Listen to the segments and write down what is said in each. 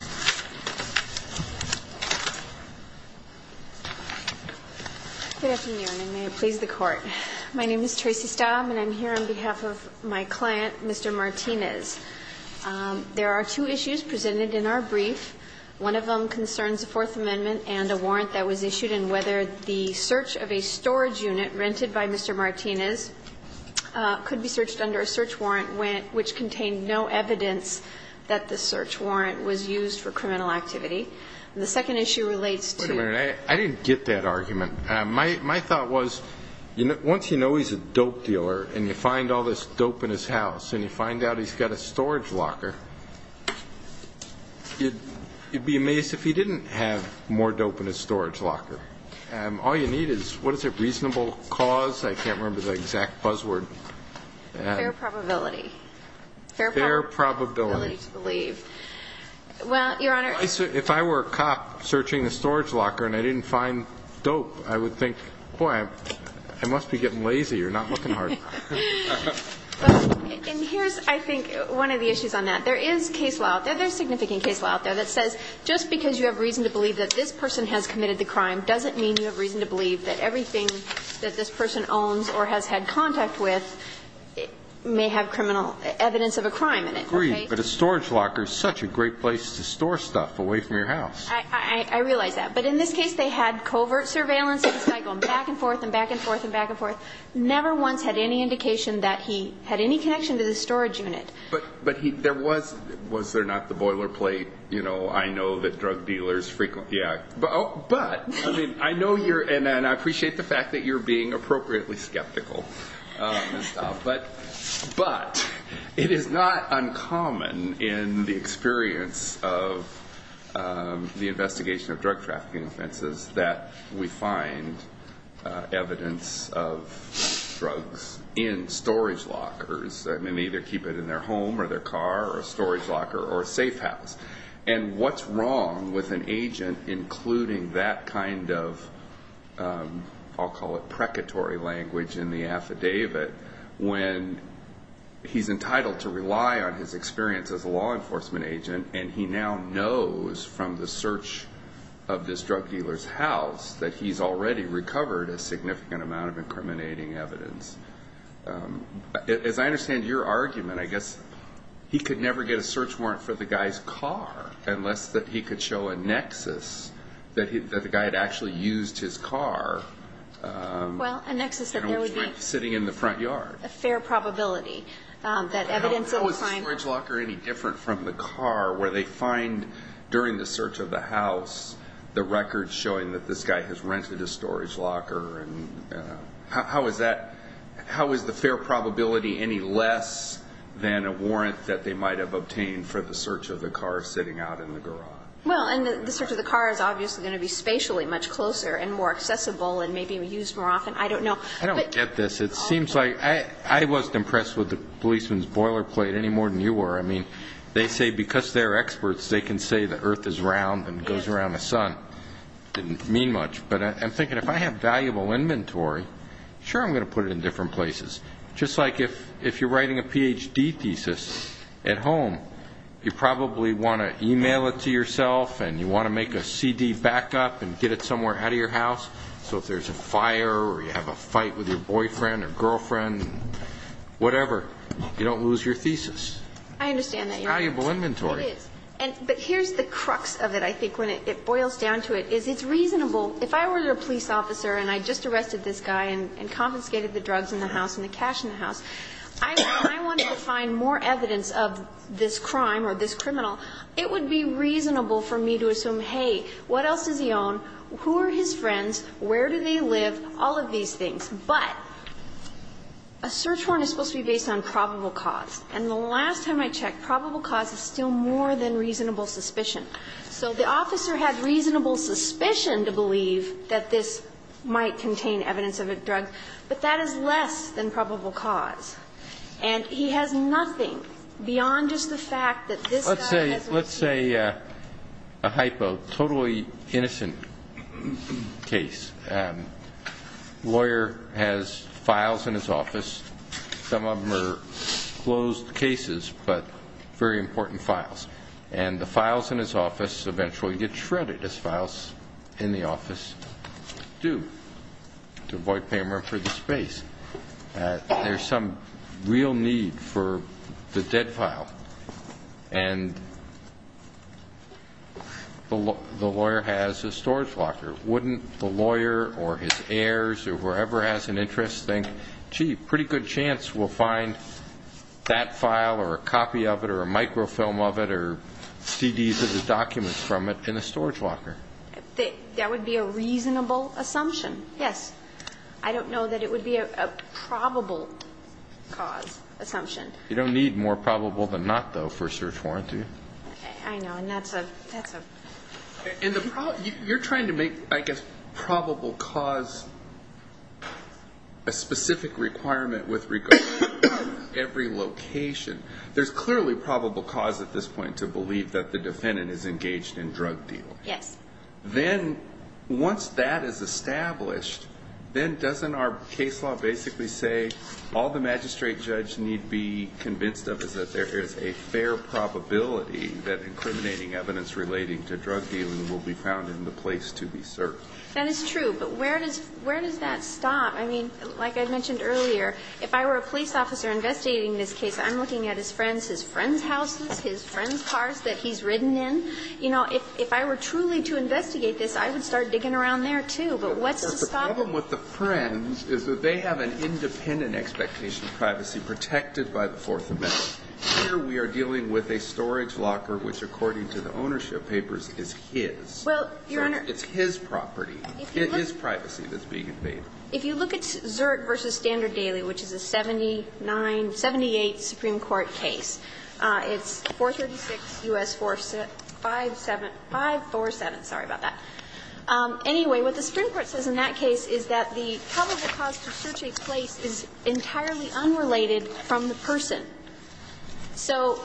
Good afternoon and may it please the Court. My name is Tracy Staub and I'm here on behalf of my client Mr. Martinez. There are two issues presented in our brief. One of them concerns the Fourth Amendment and a warrant that was issued and whether the search of a storage unit rented by Mr. Martinez could be searched under a search warrant which contained no evidence that the search warrant was used by Mr. Martinez. The second issue relates to... Wait a minute. I didn't get that argument. My thought was once you know he's a dope dealer and you find all this dope in his house and you find out he's got a storage locker, you'd be amazed if he didn't have more dope in his storage locker. All you need is, what is it, reasonable cause? I can't remember the exact buzz word. Fair probability. Fair probability. Fair probability to believe. Well, Your Honor... If I were a cop searching the storage locker and I didn't find dope, I would think, boy, I must be getting lazy or not looking hard enough. And here's, I think, one of the issues on that. There is case law out there, there's significant case law out there that says just because you have reason to believe that this person has committed the crime doesn't mean you have reason to believe that everything that this person owns or has had contact with may have criminal evidence of a crime in it. I agree, but a storage locker is such a great place to store stuff away from your house. I realize that, but in this case they had covert surveillance of this guy going back and forth and back and forth and back and forth. Never once had any indication that he had any connection to the storage unit. But was there not the boilerplate, you know, I know that drug dealers frequently... or a storage locker or a safe house. And what's wrong with an agent including that kind of, I'll call it precatory language in the affidavit, when he's entitled to rely on his experience as a law enforcement agent and he now knows from the search of this drug dealer's house that he's already recovered a significant amount of incriminating evidence. As I understand your argument, I guess he could never get a search warrant for the guy's car unless that he could show a nexus that the guy had actually used his car and was sitting in the front yard. Well, a nexus that there would be a fair probability that evidence of a crime... How is the fair probability any less than a warrant that they might have obtained for the search of the car sitting out in the garage? Well, and the search of the car is obviously going to be spatially much closer and more accessible and maybe used more often. I don't know. I don't get this. It seems like I wasn't impressed with the policeman's boilerplate any more than you were. I mean, they say because they're experts, they can say the earth is round and goes around the sun. It didn't mean much, but I'm thinking if I have valuable inventory, sure, I'm going to put it in different places. Just like if you're writing a Ph.D. thesis at home, you probably want to email it to yourself and you want to make a CD backup and get it somewhere out of your house. So if there's a fire or you have a fight with your boyfriend or girlfriend, whatever, you don't lose your thesis. I understand that, Your Honor. It's valuable inventory. It is. But here's the crux of it, I think, when it boils down to it, is it's reasonable. If I were a police officer and I just arrested this guy and confiscated the drugs in the house and the cash in the house, if I wanted to find more evidence of this crime or this criminal, it would be reasonable for me to assume, hey, what else does he own? Who are his friends? Where do they live? All of these things. But a search warrant is supposed to be based on probable cause. And the last time I checked, probable cause is still more than reasonable suspicion. So the officer had reasonable suspicion to believe that this might contain evidence of a drug, but that is less than probable cause. And he has nothing beyond just the fact that this guy has a key. A lawyer has files in his office. Some of them are closed cases, but very important files. And the files in his office eventually get shredded, as files in the office do, to avoid payment for the space. There's some real need for the dead file. And the lawyer has a storage locker. Wouldn't the lawyer or his heirs or whoever has an interest think, gee, pretty good chance we'll find that file or a copy of it or a microfilm of it or CDs of the documents from it in a storage locker? That would be a reasonable assumption, yes. I don't know that it would be a probable cause assumption. You don't need more probable than not, though, for a search warrant, do you? I know. And that's a ‑‑ that's a ‑‑ You're trying to make, I guess, probable cause a specific requirement with regard to every location. There's clearly probable cause at this point to believe that the defendant is engaged in drug dealing. Yes. Then once that is established, then doesn't our case law basically say all the magistrate judge need be convinced of is that there is a fair probability that incriminating evidence relating to drug dealing will be found in the place to be searched? That is true. But where does ‑‑ where does that stop? I mean, like I mentioned earlier, if I were a police officer investigating this case, I'm looking at his friends, his friends' houses, his friends' cars that he's ridden in. You know, if I were truly to investigate this, I would start digging around there, too. But what's the stop? The problem with the friends is that they have an independent expectation of privacy protected by the Fourth Amendment. Here we are dealing with a storage locker which, according to the ownership papers, is his. Well, Your Honor ‑‑ It's his property. It is privacy that's being invaded. If you look at Zurich v. Standard Daily, which is a 79‑78 Supreme Court case, it's 436 U.S. 457 ‑‑ 547. Sorry about that. Anyway, what the Supreme Court says in that case is that the probable cause to search a place is entirely unrelated from the person. So,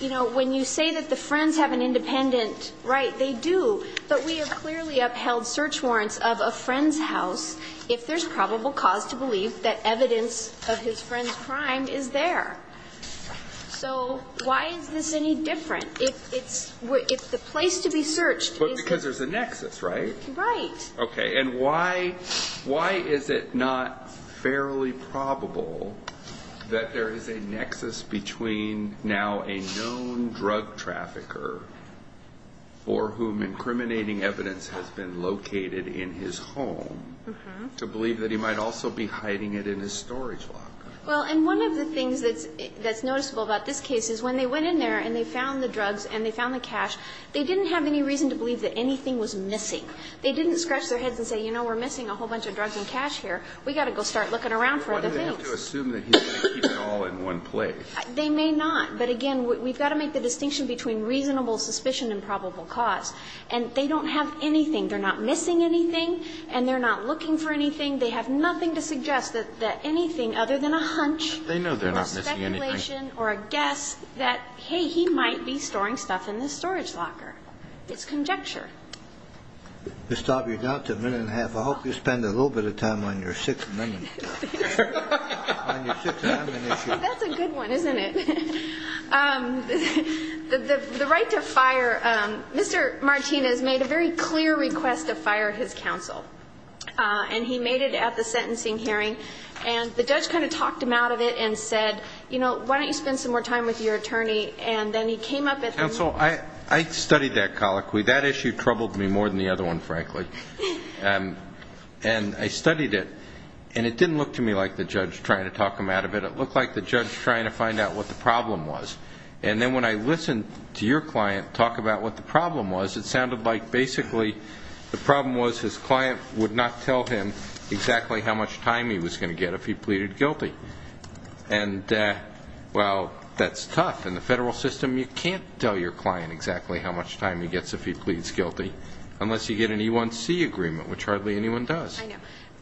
you know, when you say that the friends have an independent right, they do. But we have clearly upheld search warrants of a friend's house if there's probable cause to believe that evidence of his friend's crime is there. So why is this any different? If it's ‑‑ if the place to be searched is ‑‑ Right. Okay. And why is it not fairly probable that there is a nexus between now a known drug trafficker for whom incriminating evidence has been located in his home to believe that he might also be hiding it in his storage locker? Well, and one of the things that's noticeable about this case is when they went in there and they found the drugs and they found the cash, they didn't have any reason to believe that anything was missing. They didn't scratch their heads and say, you know, we're missing a whole bunch of drugs and cash here. We've got to go start looking around for other things. Why do they have to assume that he's going to keep it all in one place? They may not. But, again, we've got to make the distinction between reasonable suspicion and probable cause. And they don't have anything. They're not missing anything. And they're not looking for anything. They have nothing to suggest that anything other than a hunch or speculation or a guess that, hey, he might be storing stuff in this storage locker. It's conjecture. To stop you down to a minute and a half, I hope you spend a little bit of time on your sixth amendment. That's a good one, isn't it? The right to fire, Mr. Martinez made a very clear request to fire his counsel. And he made it at the sentencing hearing. And the judge kind of talked him out of it and said, you know, why don't you spend some more time with your attorney. And then he came up at the meeting. Counsel, I studied that colloquy. That issue troubled me more than the other one, frankly. And I studied it. And it didn't look to me like the judge trying to talk him out of it. It looked like the judge trying to find out what the problem was. And then when I listened to your client talk about what the problem was, it sounded like basically the problem was his client would not tell him exactly how much time he was going to get if he pleaded guilty. And, well, that's tough. In the federal system, you can't tell your client exactly how much time he gets if he pleads guilty, unless you get an E1C agreement, which hardly anyone does. I know.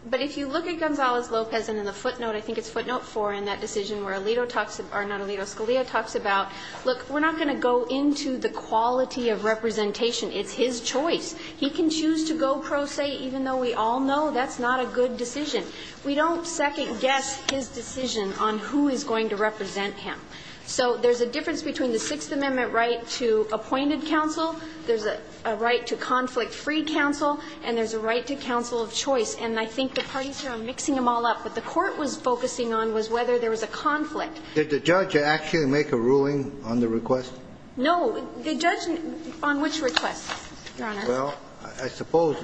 But if you look at Gonzalez-Lopez, and in the footnote, I think it's footnote 4 in that decision where Alito talks about or not Alito, Scalia talks about, look, we're not going to go into the quality of representation. It's his choice. He can choose to go pro se, even though we all know that's not a good decision. We don't second-guess his decision on who is going to represent him. So there's a difference between the Sixth Amendment right to appointed counsel, there's a right to conflict-free counsel, and there's a right to counsel of choice. And I think the parties are mixing them all up. What the Court was focusing on was whether there was a conflict. Did the judge actually make a ruling on the request? No. The judge on which request, Your Honor? Well, I suppose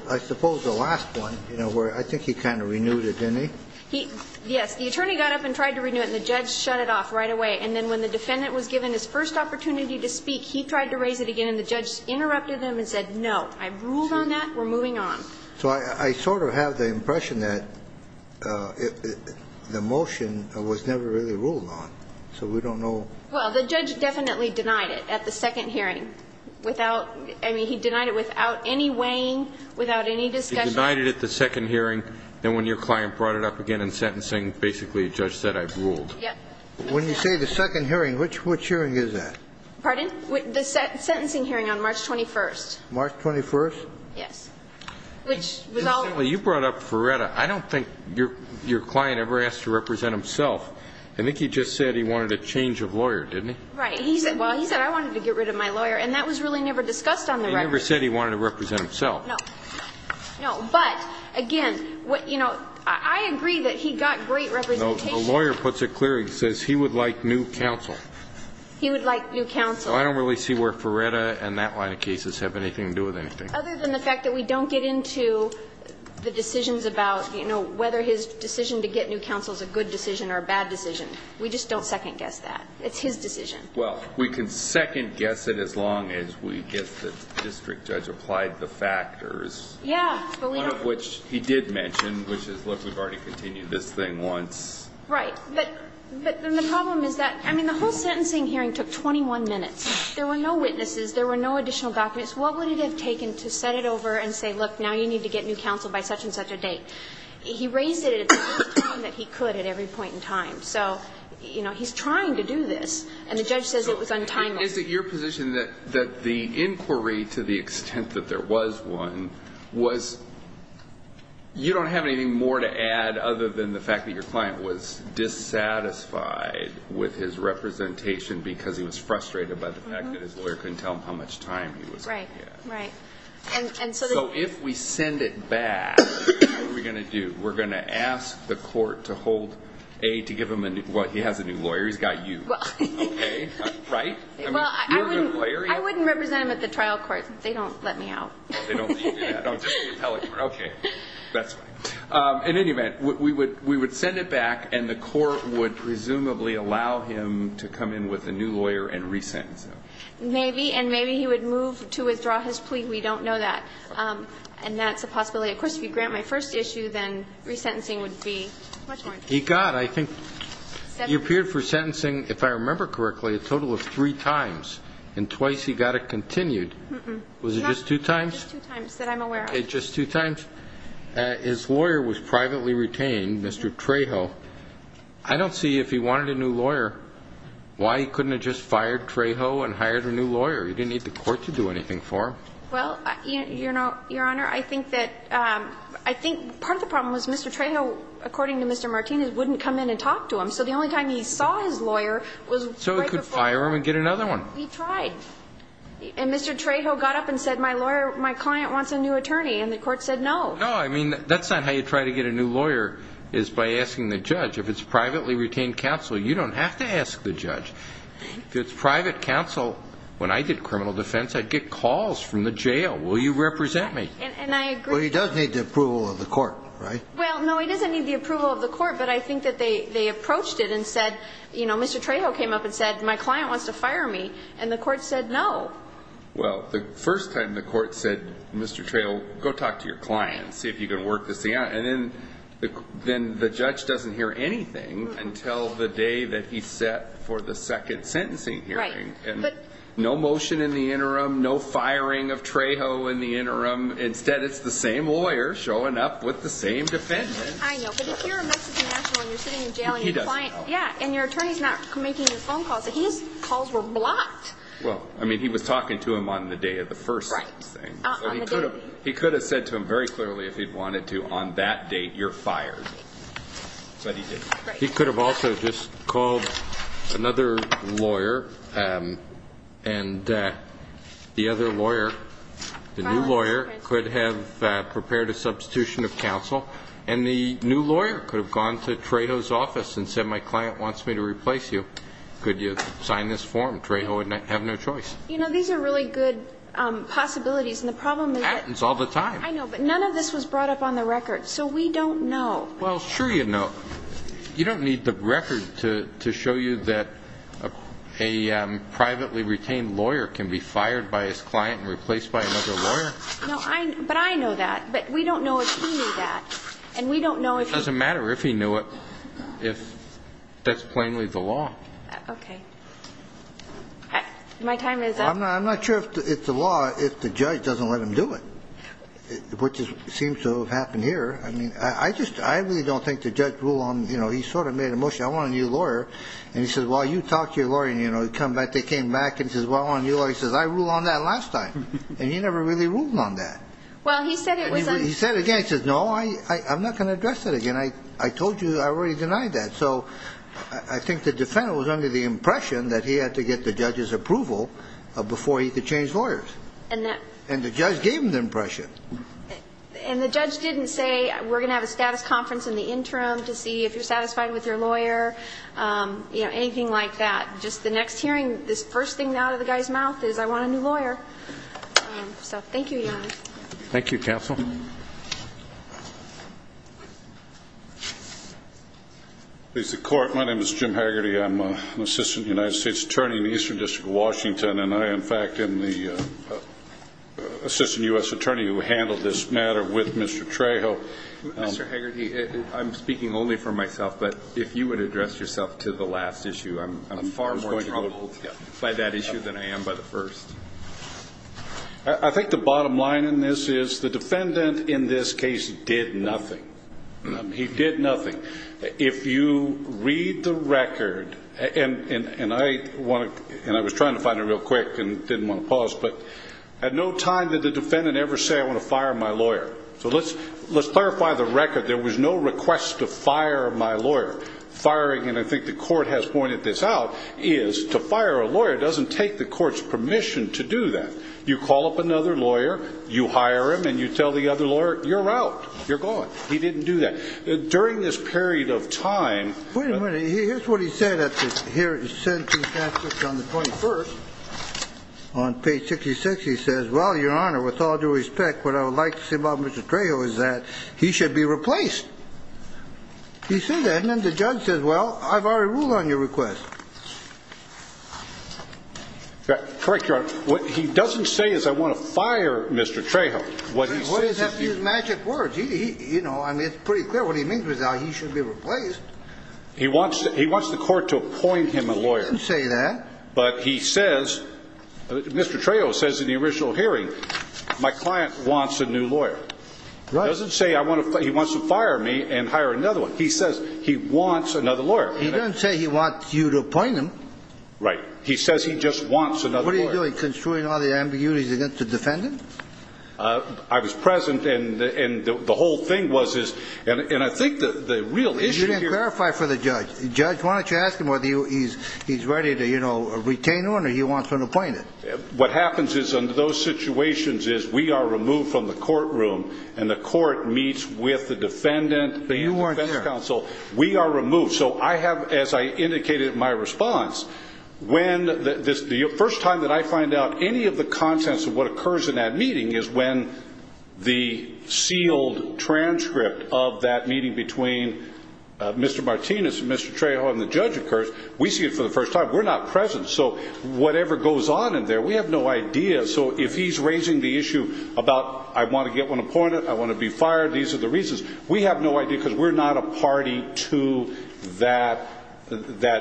the last one, you know, where I think he kind of renewed it, didn't he? Yes. The attorney got up and tried to renew it, and the judge shut it off right away. And then when the defendant was given his first opportunity to speak, he tried to raise it again, and the judge interrupted him and said, no, I've ruled on that. We're moving on. So I sort of have the impression that the motion was never really ruled on, so we don't know. Well, the judge definitely denied it at the second hearing. I mean, he denied it without any weighing, without any discussion. He denied it at the second hearing, then when your client brought it up again in sentencing, basically the judge said, I've ruled. When you say the second hearing, which hearing is that? Pardon? The sentencing hearing on March 21st. March 21st? Yes. You brought up Ferretta. I don't think your client ever asked to represent himself. I think he just said he wanted a change of lawyer, didn't he? Right. Well, he said, I wanted to get rid of my lawyer, and that was really never discussed on the record. He never said he wanted to represent himself. No. No. But, again, you know, I agree that he got great representation. The lawyer puts it clearly. He says he would like new counsel. He would like new counsel. So I don't really see where Ferretta and that line of cases have anything to do with anything. Other than the fact that we don't get into the decisions about, you know, whether his decision to get new counsel is a good decision or a bad decision. We just don't second-guess that. It's his decision. Well, we can second-guess it as long as we get the district judge applied the factors. Yeah. One of which he did mention, which is, look, we've already continued this thing once. Right. But then the problem is that, I mean, the whole sentencing hearing took 21 minutes. There were no witnesses. There were no additional documents. What would it have taken to set it over and say, look, now you need to get new counsel by such and such a date? He raised it at the time that he could at every point in time. So, you know, he's trying to do this. And the judge says it was untimely. Is it your position that the inquiry, to the extent that there was one, was you don't have anything more to add other than the fact that your client was dissatisfied with his representation because he was frustrated by the fact that his lawyer couldn't tell him how much time he was going to get? Right. Right. So if we send it back, what are we going to do? We're going to ask the court to hold, A, to give him a new, well, he has a new lawyer. He's got you. Okay? Right? Well, I wouldn't represent him at the trial court. They don't let me out. They don't let you do that. No, just the appellate court. Okay. That's fine. In any event, we would send it back, and the court would presumably allow him to come in with a new lawyer and resentence him. Maybe. And maybe he would move to withdraw his plea. We don't know that. And that's a possibility. Of course, if you grant my first issue, then resentencing would be much more interesting. He got, I think, he appeared for sentencing, if I remember correctly, a total of three times, and twice he got it continued. Was it just two times? Just two times that I'm aware of. Just two times. His lawyer was privately retained, Mr. Trejo. I don't see, if he wanted a new lawyer, why he couldn't have just fired Trejo and hired a new lawyer? He didn't need the court to do anything for him. Well, Your Honor, I think that, I think part of the problem was Mr. Trejo, according to Mr. Martinez, wouldn't come in and talk to him. So the only time he saw his lawyer was right before. So he could fire him and get another one. He tried. And Mr. Trejo got up and said, my lawyer, my client wants a new attorney. And the court said no. No, I mean, that's not how you try to get a new lawyer, is by asking the judge. If it's privately retained counsel, you don't have to ask the judge. If it's private counsel, when I did criminal defense, I'd get calls from the jail. Will you represent me? And I agree. Well, he does need the approval of the court, right? Well, no, he doesn't need the approval of the court, but I think that they approached it and said, you know, Mr. Trejo came up and said, my client wants to fire me. And the court said no. Well, the first time the court said, Mr. Trejo, go talk to your client, see if you can work this thing out. And then the judge doesn't hear anything until the day that he's set for the second sentencing hearing. Right. No motion in the interim, no firing of Trejo in the interim. Instead, it's the same lawyer showing up with the same defense. I know, but if you're a Mexican national and you're sitting in jail and your client, yeah, and your attorney's not making your phone calls, his calls were blocked. Well, I mean, he was talking to him on the day of the first thing. He could have said to him very clearly if he'd wanted to, on that date, you're fired. But he didn't. He could have also just called another lawyer and the other lawyer, the new lawyer, could have prepared a substitution of counsel. And the new lawyer could have gone to Trejo's office and said, my client wants me to replace you. Could you sign this form? Trejo would have no choice. You know, these are really good possibilities. And the problem is that none of this was brought up on the record, so we don't know. Well, sure you know. You don't need the record to show you that a privately retained lawyer can be fired by his client and replaced by another lawyer. But I know that. But we don't know if he knew that. It doesn't matter if he knew it if that's plainly the law. Okay. My time is up. I'm not sure if it's the law if the judge doesn't let him do it, which seems to have happened here. I mean, I really don't think the judge ruled on, you know, he sort of made a motion, I want a new lawyer, and he said, well, you talked to your lawyer, and, you know, they came back and said, well, I want a new lawyer. He says, I ruled on that last time. And he never really ruled on that. Well, he said it was on. He said it again. He says, no, I'm not going to address that again. I told you I already denied that. So I think the defendant was under the impression that he had to get the judge's approval before he could change lawyers. And the judge gave him the impression. And the judge didn't say, we're going to have a status conference in the interim to see if you're satisfied with your lawyer, you know, anything like that. Just the next hearing, this first thing out of the guy's mouth is, I want a new lawyer. So thank you, Your Honor. Thank you, counsel. Please, the Court. My name is Jim Hegarty. I'm an assistant United States attorney in the Eastern District of Washington, and I, in fact, am the assistant U.S. attorney who handled this matter with Mr. Trejo. Mr. Hegarty, I'm speaking only for myself, but if you would address yourself to the last issue, I'm far more troubled by that issue than I am by the first. I think the bottom line in this is the defendant in this case did nothing. He did nothing. If you read the record, and I was trying to find it real quick and didn't want to pause, but at no time did the defendant ever say, I want to fire my lawyer. So let's clarify the record. There was no request to fire my lawyer. Firing, and I think the Court has pointed this out, is to fire a lawyer doesn't take the court's permission to do that. You call up another lawyer, you hire him, and you tell the other lawyer, you're out. You're gone. He didn't do that. During this period of time. Wait a minute. Here's what he said at the hearing. He said on the 21st, on page 66, he says, well, Your Honor, with all due respect, what I would like to say about Mr. Trejo is that he should be replaced. He said that, and then the judge says, well, I've already ruled on your request. Correct, Your Honor. What he doesn't say is I want to fire Mr. Trejo. He doesn't have to use magic words. You know, I mean, it's pretty clear what he means with that. He should be replaced. He wants the court to appoint him a lawyer. He didn't say that. But he says, Mr. Trejo says in the original hearing, my client wants a new lawyer. Right. He doesn't say he wants to fire me and hire another one. He says he wants another lawyer. He doesn't say he wants you to appoint him. Right. He says he just wants another lawyer. What are you doing? Construing all the ambiguities against the defendant? I was present, and the whole thing was, and I think the real issue here. You didn't clarify for the judge. Judge, why don't you ask him whether he's ready to, you know, retain him or he wants an appointment? What happens is under those situations is we are removed from the courtroom, and the court meets with the defendant and the defense counsel. But you weren't there. We are removed. So I have, as I indicated in my response, when the first time that I find out any of the contents of what occurs in that meeting is when the sealed transcript of that meeting between Mr. Martinez and Mr. Trejo and the judge occurs. We see it for the first time. We're not present. So whatever goes on in there, we have no idea. So if he's raising the issue about I want to get one appointed, I want to be fired, these are the reasons, we have no idea because we're not a party to that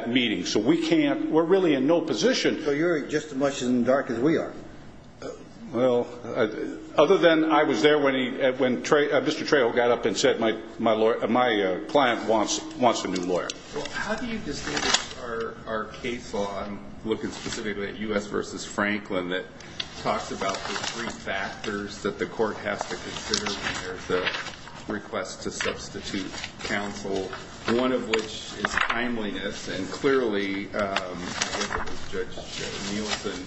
meeting. So we can't, we're really in no position. So you're just as much in the dark as we are. Well, other than I was there when Mr. Trejo got up and said my client wants a new lawyer. Well, how do you distinguish our case law? I'm looking specifically at U.S. v. Franklin that talks about the three factors that the court has to consider when there's a request to substitute counsel, one of which is timeliness. And clearly Judge Nielsen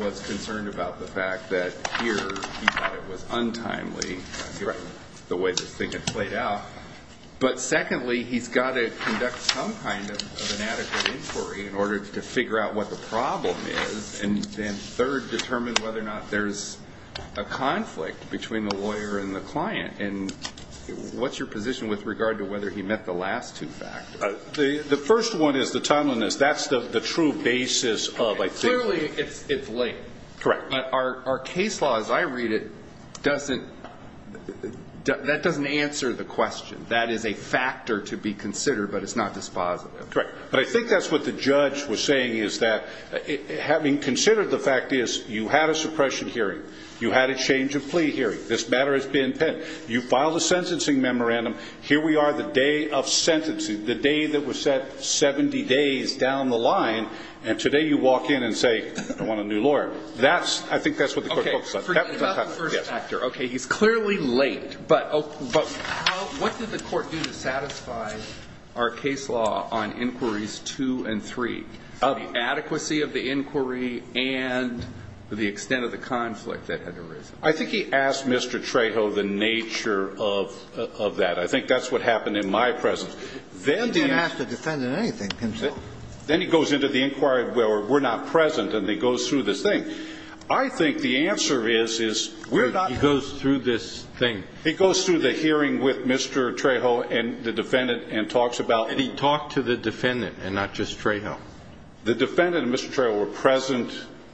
was concerned about the fact that here he thought it was untimely, the way this thing had played out. But secondly, he's got to conduct some kind of inadequate inquiry in order to figure out what the problem is. And then third, determine whether or not there's a conflict between the lawyer and the client. And what's your position with regard to whether he met the last two factors? The first one is the timeliness. That's the true basis of I think what he said. Clearly it's late. Correct. But our case law as I read it doesn't, that doesn't answer the question. That is a factor to be considered, but it's not dispositive. Correct. But I think that's what the judge was saying is that having considered the fact is you had a suppression hearing, you had a change of plea hearing, this matter has been penned, you filed a sentencing memorandum, here we are the day of sentencing, the day that was set 70 days down the line, and today you walk in and say I want a new lawyer. I think that's what the court focused on. Forget about the first factor. Okay. He's clearly late. But what did the court do to satisfy our case law on inquiries two and three, the adequacy of the inquiry and the extent of the conflict that had arisen? I think he asked Mr. Trejo the nature of that. I think that's what happened in my presence. He didn't have to defend in anything. Then he goes into the inquiry where we're not present and he goes through this thing. I think the answer is we're not. He goes through this thing. He goes through the hearing with Mr. Trejo and the defendant and talks about. And he talked to the defendant and not just Trejo. The defendant and Mr. Trejo were present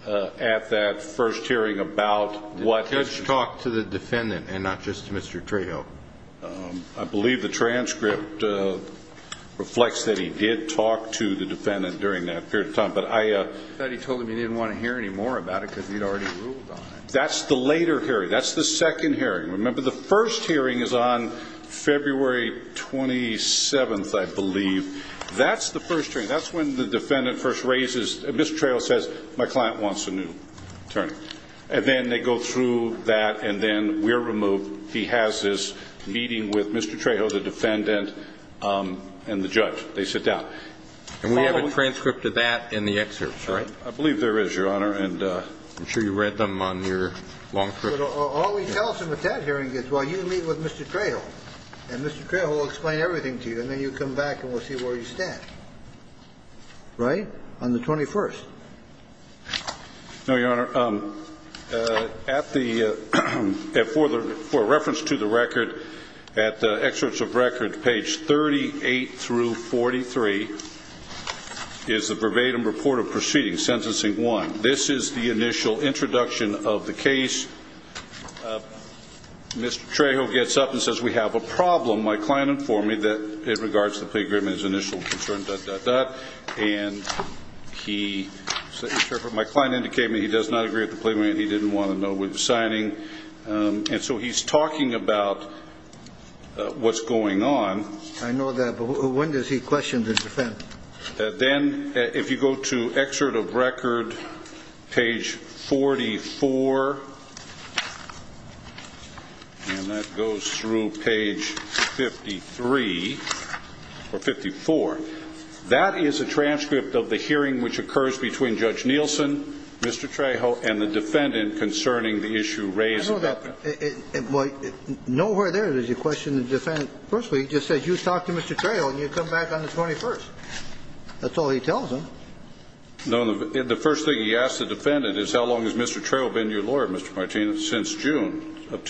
at that first hearing about what. He talked to the defendant and not just Mr. Trejo. I believe the transcript reflects that he did talk to the defendant during that period of time. I thought he told him he didn't want to hear any more about it because he'd already ruled on it. That's the later hearing. That's the second hearing. Remember, the first hearing is on February 27th, I believe. That's the first hearing. That's when the defendant first raises. Mr. Trejo says my client wants a new attorney. And then they go through that and then we're removed. He has this meeting with Mr. Trejo, the defendant, and the judge. They sit down. And we have a transcript of that in the excerpts, right? I believe there is, Your Honor. And I'm sure you read them on your long trip. All we tell them at that hearing is, well, you meet with Mr. Trejo. And Mr. Trejo will explain everything to you. And then you come back and we'll see where you stand. Right? On the 21st. No, Your Honor. For reference to the record, at the excerpts of record, page 38 through 43, is the verbatim report of proceedings, sentencing one. This is the initial introduction of the case. Mr. Trejo gets up and says we have a problem. My client informed me that it regards the plea agreement as initial concern, dot, dot, dot. And he said, my client indicated he does not agree with the plea agreement. He didn't want to know we were signing. And so he's talking about what's going on. I know that, but when does he question the defendant? Then if you go to excerpt of record, page 44, and that goes through page 53 or 54, that is a transcript of the hearing which occurs between Judge Nielsen, Mr. Trejo, and the defendant concerning the issue raised. Nowhere there does he question the defendant. Firstly, he just says you talk to Mr. Trejo and you come back on the 21st. That's all he tells him. The first thing he asks the defendant is how long has Mr. Trejo been your lawyer, Mr. Martinez, since June of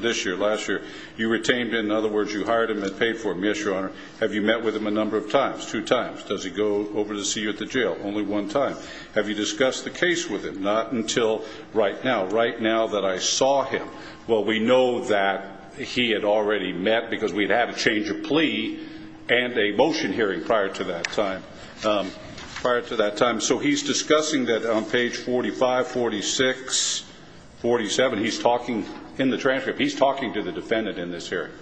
this year, last year. You retained him. In other words, you hired him and paid for him. Yes, Your Honor. Have you met with him a number of times, two times? Does he go over to see you at the jail? Only one time. Have you discussed the case with him? Not until right now. Not until right now that I saw him. Well, we know that he had already met because we'd had a change of plea and a motion hearing prior to that time. So he's discussing that on page 45, 46, 47. He's talking in the transcript. He's talking to the defendant in this hearing.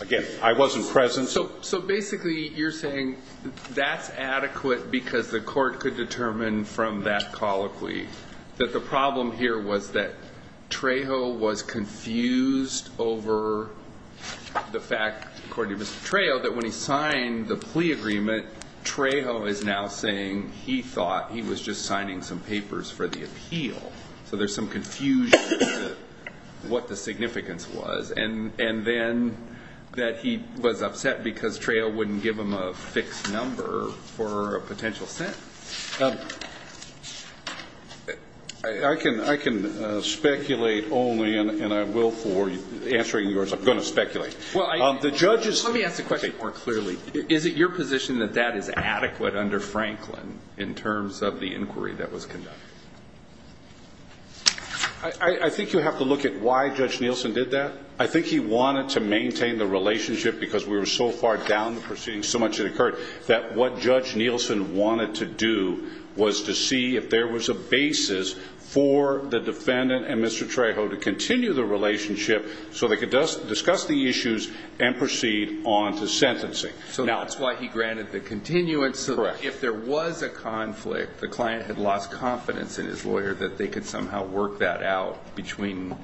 Again, I wasn't present. So basically you're saying that's adequate because the court could determine from that colloquy that the problem here was that Trejo was confused over the fact, according to Mr. Trejo, that when he signed the plea agreement, Trejo is now saying he thought he was just signing some papers for the appeal. So there's some confusion as to what the significance was. And then that he was upset because Trejo wouldn't give him a fixed number for a potential sentence. I can speculate only, and I will for answering yours. I'm going to speculate. Let me ask the question more clearly. Is it your position that that is adequate under Franklin in terms of the inquiry that was conducted? I think you have to look at why Judge Nielsen did that. I think he wanted to maintain the relationship because we were so far down the proceeding, so much had occurred, that what Judge Nielsen wanted to do was to see if there was a basis for the defendant and Mr. Trejo to continue the relationship so they could discuss the issues and proceed on to sentencing. So that's why he granted the continuance. Correct. But if there was a conflict, the client had lost confidence in his lawyer that they could somehow work that out between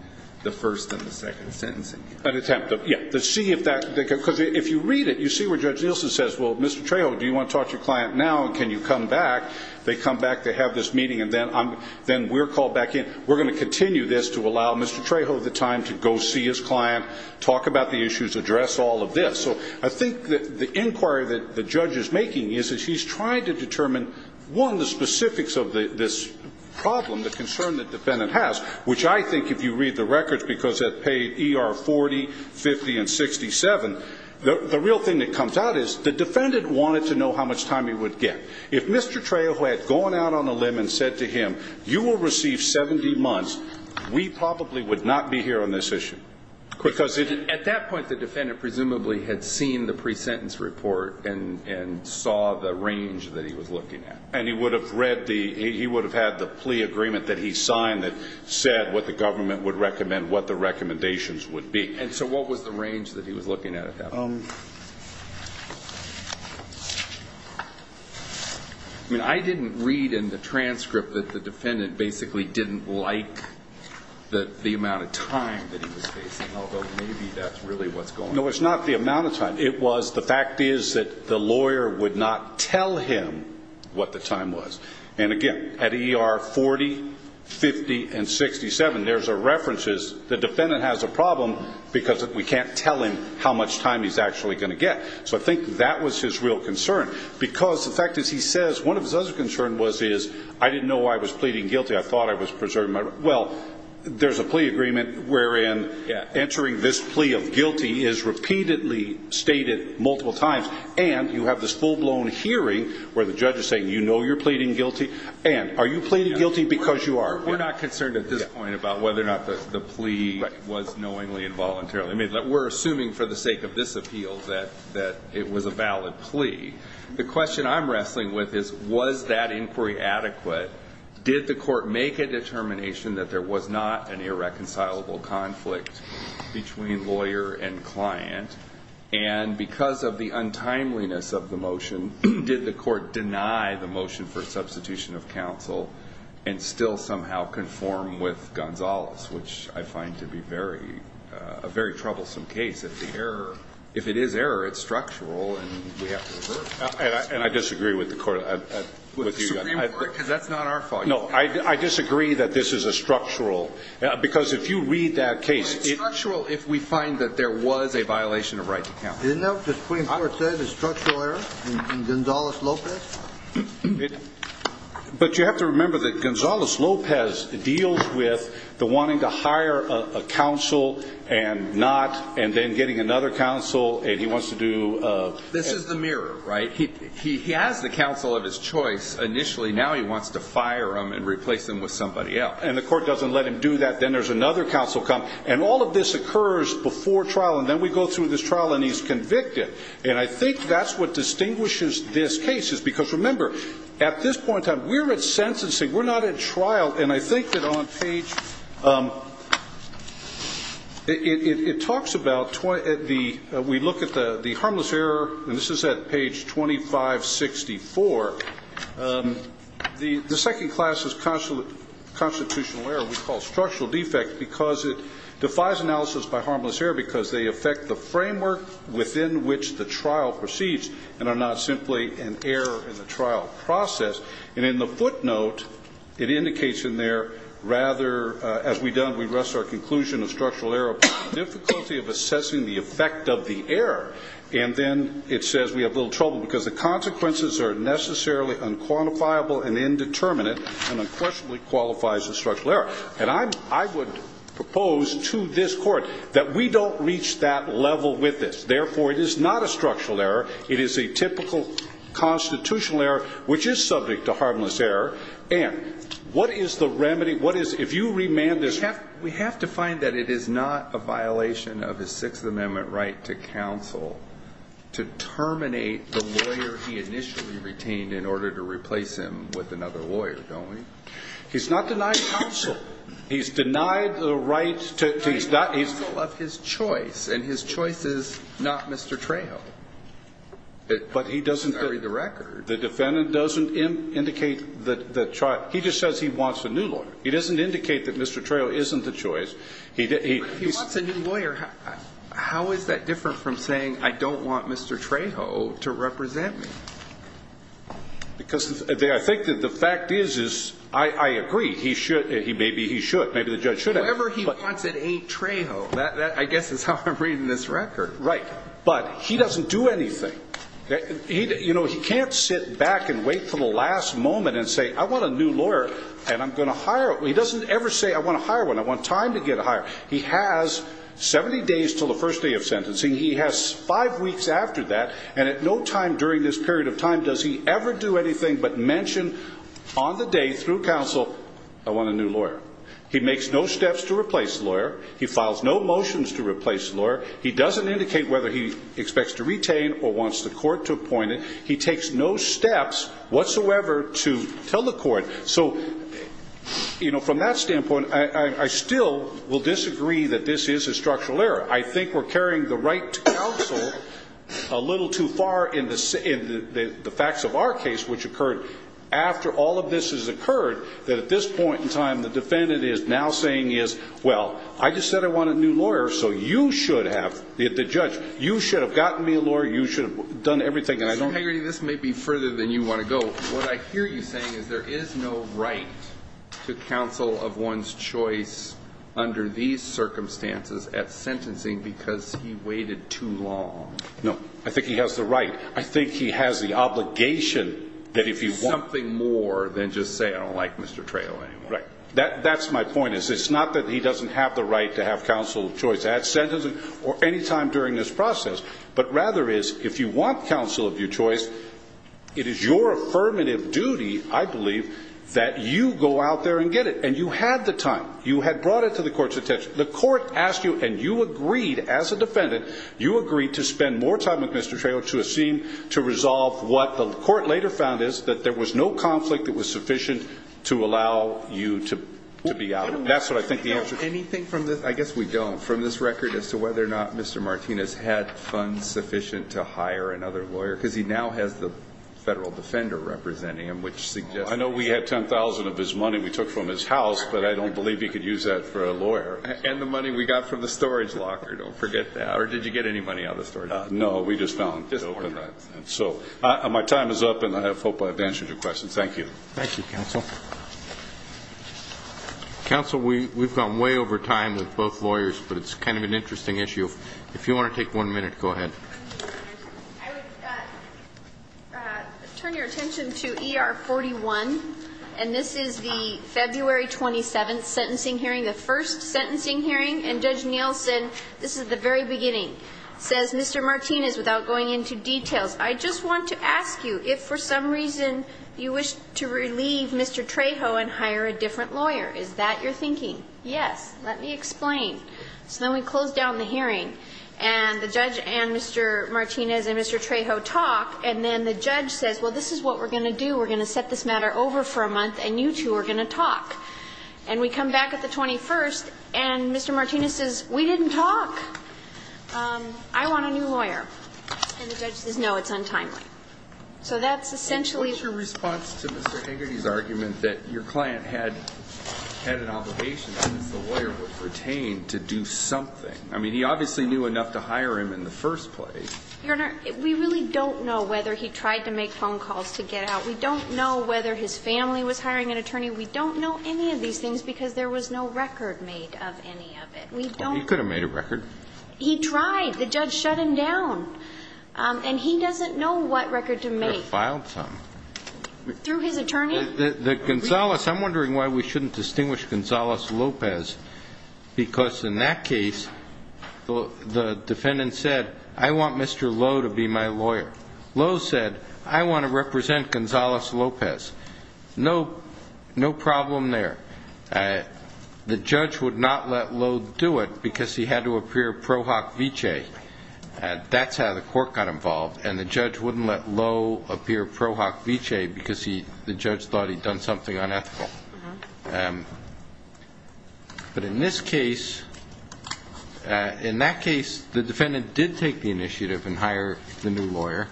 the first and the second sentencing. An attempt. Because if you read it, you see where Judge Nielsen says, well, Mr. Trejo, do you want to talk to your client now and can you come back? They come back, they have this meeting, and then we're called back in. We're going to continue this to allow Mr. Trejo the time to go see his client, talk about the issues, address all of this. So I think the inquiry that the judge is making is that he's trying to determine, one, the specifics of this problem, the concern the defendant has, which I think if you read the records, because they're paid ER 40, 50, and 67, the real thing that comes out is the defendant wanted to know how much time he would get. If Mr. Trejo had gone out on a limb and said to him, you will receive 70 months, we probably would not be here on this issue. Because at that point the defendant presumably had seen the pre-sentence report and saw the range that he was looking at. And he would have read the, he would have had the plea agreement that he signed that said what the government would recommend, what the recommendations would be. And so what was the range that he was looking at at that point? I mean, I didn't read in the transcript that the defendant basically didn't like the amount of time that he was facing, although maybe that's really what's going on. No, it's not the amount of time. It was the fact is that the lawyer would not tell him what the time was. And again, at ER 40, 50, and 67, there's a reference as the defendant has a problem because we can't tell him how much time he's got. So I think that was his real concern. Because the fact is he says one of his other concerns was I didn't know I was pleading guilty. I thought I was preserving my right. Well, there's a plea agreement wherein answering this plea of guilty is repeatedly stated multiple times. And you have this full-blown hearing where the judge is saying you know you're pleading guilty. And are you pleading guilty because you are? We're not concerned at this point about whether or not the plea was knowingly and voluntarily. We're assuming for the sake of this appeal that it was a valid plea. The question I'm wrestling with is was that inquiry adequate? Did the court make a determination that there was not an irreconcilable conflict between lawyer and client? And because of the untimeliness of the motion, did the court deny the motion for substitution of counsel and still somehow conform with Gonzalez, which I find to be a very troublesome case. If it is error, it's structural and we have to reverse it. And I disagree with the court. With the Supreme Court? Because that's not our fault. No, I disagree that this is a structural. Because if you read that case. Well, it's structural if we find that there was a violation of right to counsel. Isn't that what the Supreme Court said is structural error in Gonzalez-Lopez? But you have to remember that Gonzalez-Lopez deals with the wanting to hire a counsel and not. And then getting another counsel and he wants to do. This is the mirror, right? He has the counsel of his choice initially. Now he wants to fire him and replace him with somebody else. And the court doesn't let him do that. Then there's another counsel. And all of this occurs before trial. And then we go through this trial and he's convicted. And I think that's what distinguishes this case. Because remember, at this point in time, we're at sentencing. We're not at trial. And I think that on page. It talks about the. We look at the harmless error. And this is at page 2564. The second class is constitutional error. We call structural defect. Because it defies analysis by harmless error. Because they affect the framework within which the trial proceeds. And are not simply an error in the trial process. And in the footnote, it indicates in there. Rather, as we done, we rest our conclusion of structural error. Difficulty of assessing the effect of the error. And then it says we have little trouble. Because the consequences are necessarily unquantifiable and indeterminate. And unquestionably qualifies as structural error. And I would propose to this court. That we don't reach that level with this. Therefore, it is not a structural error. It is a typical constitutional error. Which is subject to harmless error. And what is the remedy? What is. If you remand this. We have to find that it is not a violation of his sixth amendment right to counsel. To terminate the lawyer he initially retained in order to replace him with another lawyer. Don't we? He's not denied counsel. He's denied the right to. He's not. Counsel of his choice. And his choice is not Mr. Trejo. But he doesn't. I read the record. The defendant doesn't indicate the trial. He just says he wants a new lawyer. He doesn't indicate that Mr. Trejo isn't the choice. He. He wants a new lawyer. How is that different from saying I don't want Mr. Trejo to represent me? Because I think that the fact is, is I agree. He should. Maybe he should. Maybe the judge should have. Whatever he wants it ain't Trejo. That I guess is how I'm reading this record. Right. But he doesn't do anything. You know, he can't sit back and wait for the last moment and say I want a new lawyer. And I'm going to hire. He doesn't ever say I want to hire one. I want time to get a hire. He has 70 days until the first day of sentencing. He has five weeks after that. And at no time during this period of time does he ever do anything but mention on the day, through counsel, I want a new lawyer. He makes no steps to replace the lawyer. He files no motions to replace the lawyer. He doesn't indicate whether he expects to retain or wants the court to appoint him. He takes no steps whatsoever to tell the court. So, you know, from that standpoint, I still will disagree that this is a structural error. I think we're carrying the right to counsel a little too far in the facts of our case, which occurred after all of this has occurred, that at this point in time the defendant is now saying is, well, I just said I want a new lawyer, so you should have, the judge, you should have gotten me a lawyer, you should have done everything. Mr. Hagerty, this may be further than you want to go. So what I hear you saying is there is no right to counsel of one's choice under these circumstances at sentencing because he waited too long. No. I think he has the right. I think he has the obligation that if you want. Something more than just say I don't like Mr. Trayl anymore. Right. That's my point, is it's not that he doesn't have the right to have counsel of choice at sentencing or any time during this process, but rather is if you want counsel of your choice, it is your affirmative duty, I believe, that you go out there and get it. And you had the time. You had brought it to the court's attention. The court asked you and you agreed as a defendant, you agreed to spend more time with Mr. Trayl to assume, to resolve what the court later found is that there was no conflict that was sufficient to allow you to be out. That's what I think the answer is. Anything from this? I guess we don't. From this record as to whether or not Mr. Martinez had funds sufficient to hire another lawyer, because he now has the federal defender representing him, which suggests. I know we had $10,000 of his money we took from his house, but I don't believe he could use that for a lawyer. And the money we got from the storage locker. Don't forget that. Or did you get any money out of the storage locker? No. We just found it. Thank you. Thank you, counsel. Counsel, we've gone way over time with both lawyers, but it's kind of an interesting issue. If you want to take one minute, go ahead. I would turn your attention to ER 41. And this is the February 27th sentencing hearing, the first sentencing hearing. And Judge Nielsen, this is the very beginning, says Mr. Martinez, without going into details, I just want to ask you if for some reason you wish to relieve Mr. Trejo and hire a different lawyer. Is that your thinking? Yes. Let me explain. So then we close down the hearing. And the judge and Mr. Martinez and Mr. Trejo talk. And then the judge says, well, this is what we're going to do. We're going to set this matter over for a month, and you two are going to talk. And we come back at the 21st, and Mr. Martinez says, we didn't talk. I want a new lawyer. And the judge says, no, it's untimely. So that's essentially the case. What's your response to Mr. Hagerty's argument that your client had an obligation since the lawyer was retained to do something? I mean, he obviously knew enough to hire him in the first place. Your Honor, we really don't know whether he tried to make phone calls to get out. We don't know whether his family was hiring an attorney. We don't know any of these things because there was no record made of any of it. He could have made a record. He tried. The judge shut him down. And he doesn't know what record to make. He could have filed something. Through his attorney? The Gonzales. I'm wondering why we shouldn't distinguish Gonzales-Lopez because in that case, the defendant said, I want Mr. Lowe to be my lawyer. Lowe said, I want to represent Gonzales-Lopez. No problem there. The judge would not let Lowe do it because he had to appear pro hoc vice. That's how the court got involved. And the judge wouldn't let Lowe appear pro hoc vice because the judge thought he'd done something unethical. But in this case, in that case, the defendant did take the initiative and hire the new lawyer,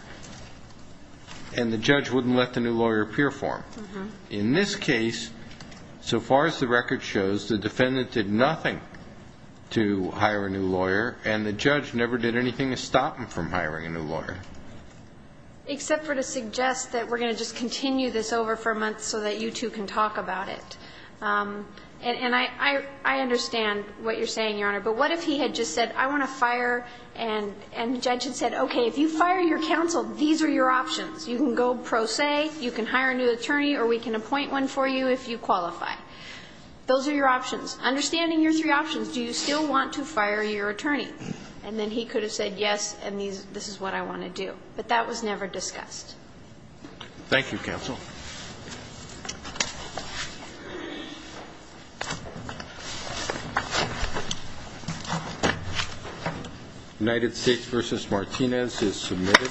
and the judge wouldn't let the new lawyer appear for him. In this case, so far as the record shows, the defendant did nothing to hire a new lawyer, and the judge never did anything to stop him from hiring a new lawyer. Except for to suggest that we're going to just continue this over for a month so that you two can talk about it. And I understand what you're saying, Your Honor, but what if he had just said, I want to fire, and the judge had said, okay, if you fire your counsel, these are your options. You can go pro se, you can hire a new attorney, or we can appoint one for you if you qualify. Those are your options. Understanding your three options, do you still want to fire your attorney? And then he could have said, yes, and this is what I want to do. But that was never discussed. Thank you, counsel. United States v. Martinez is submitted. Thank you.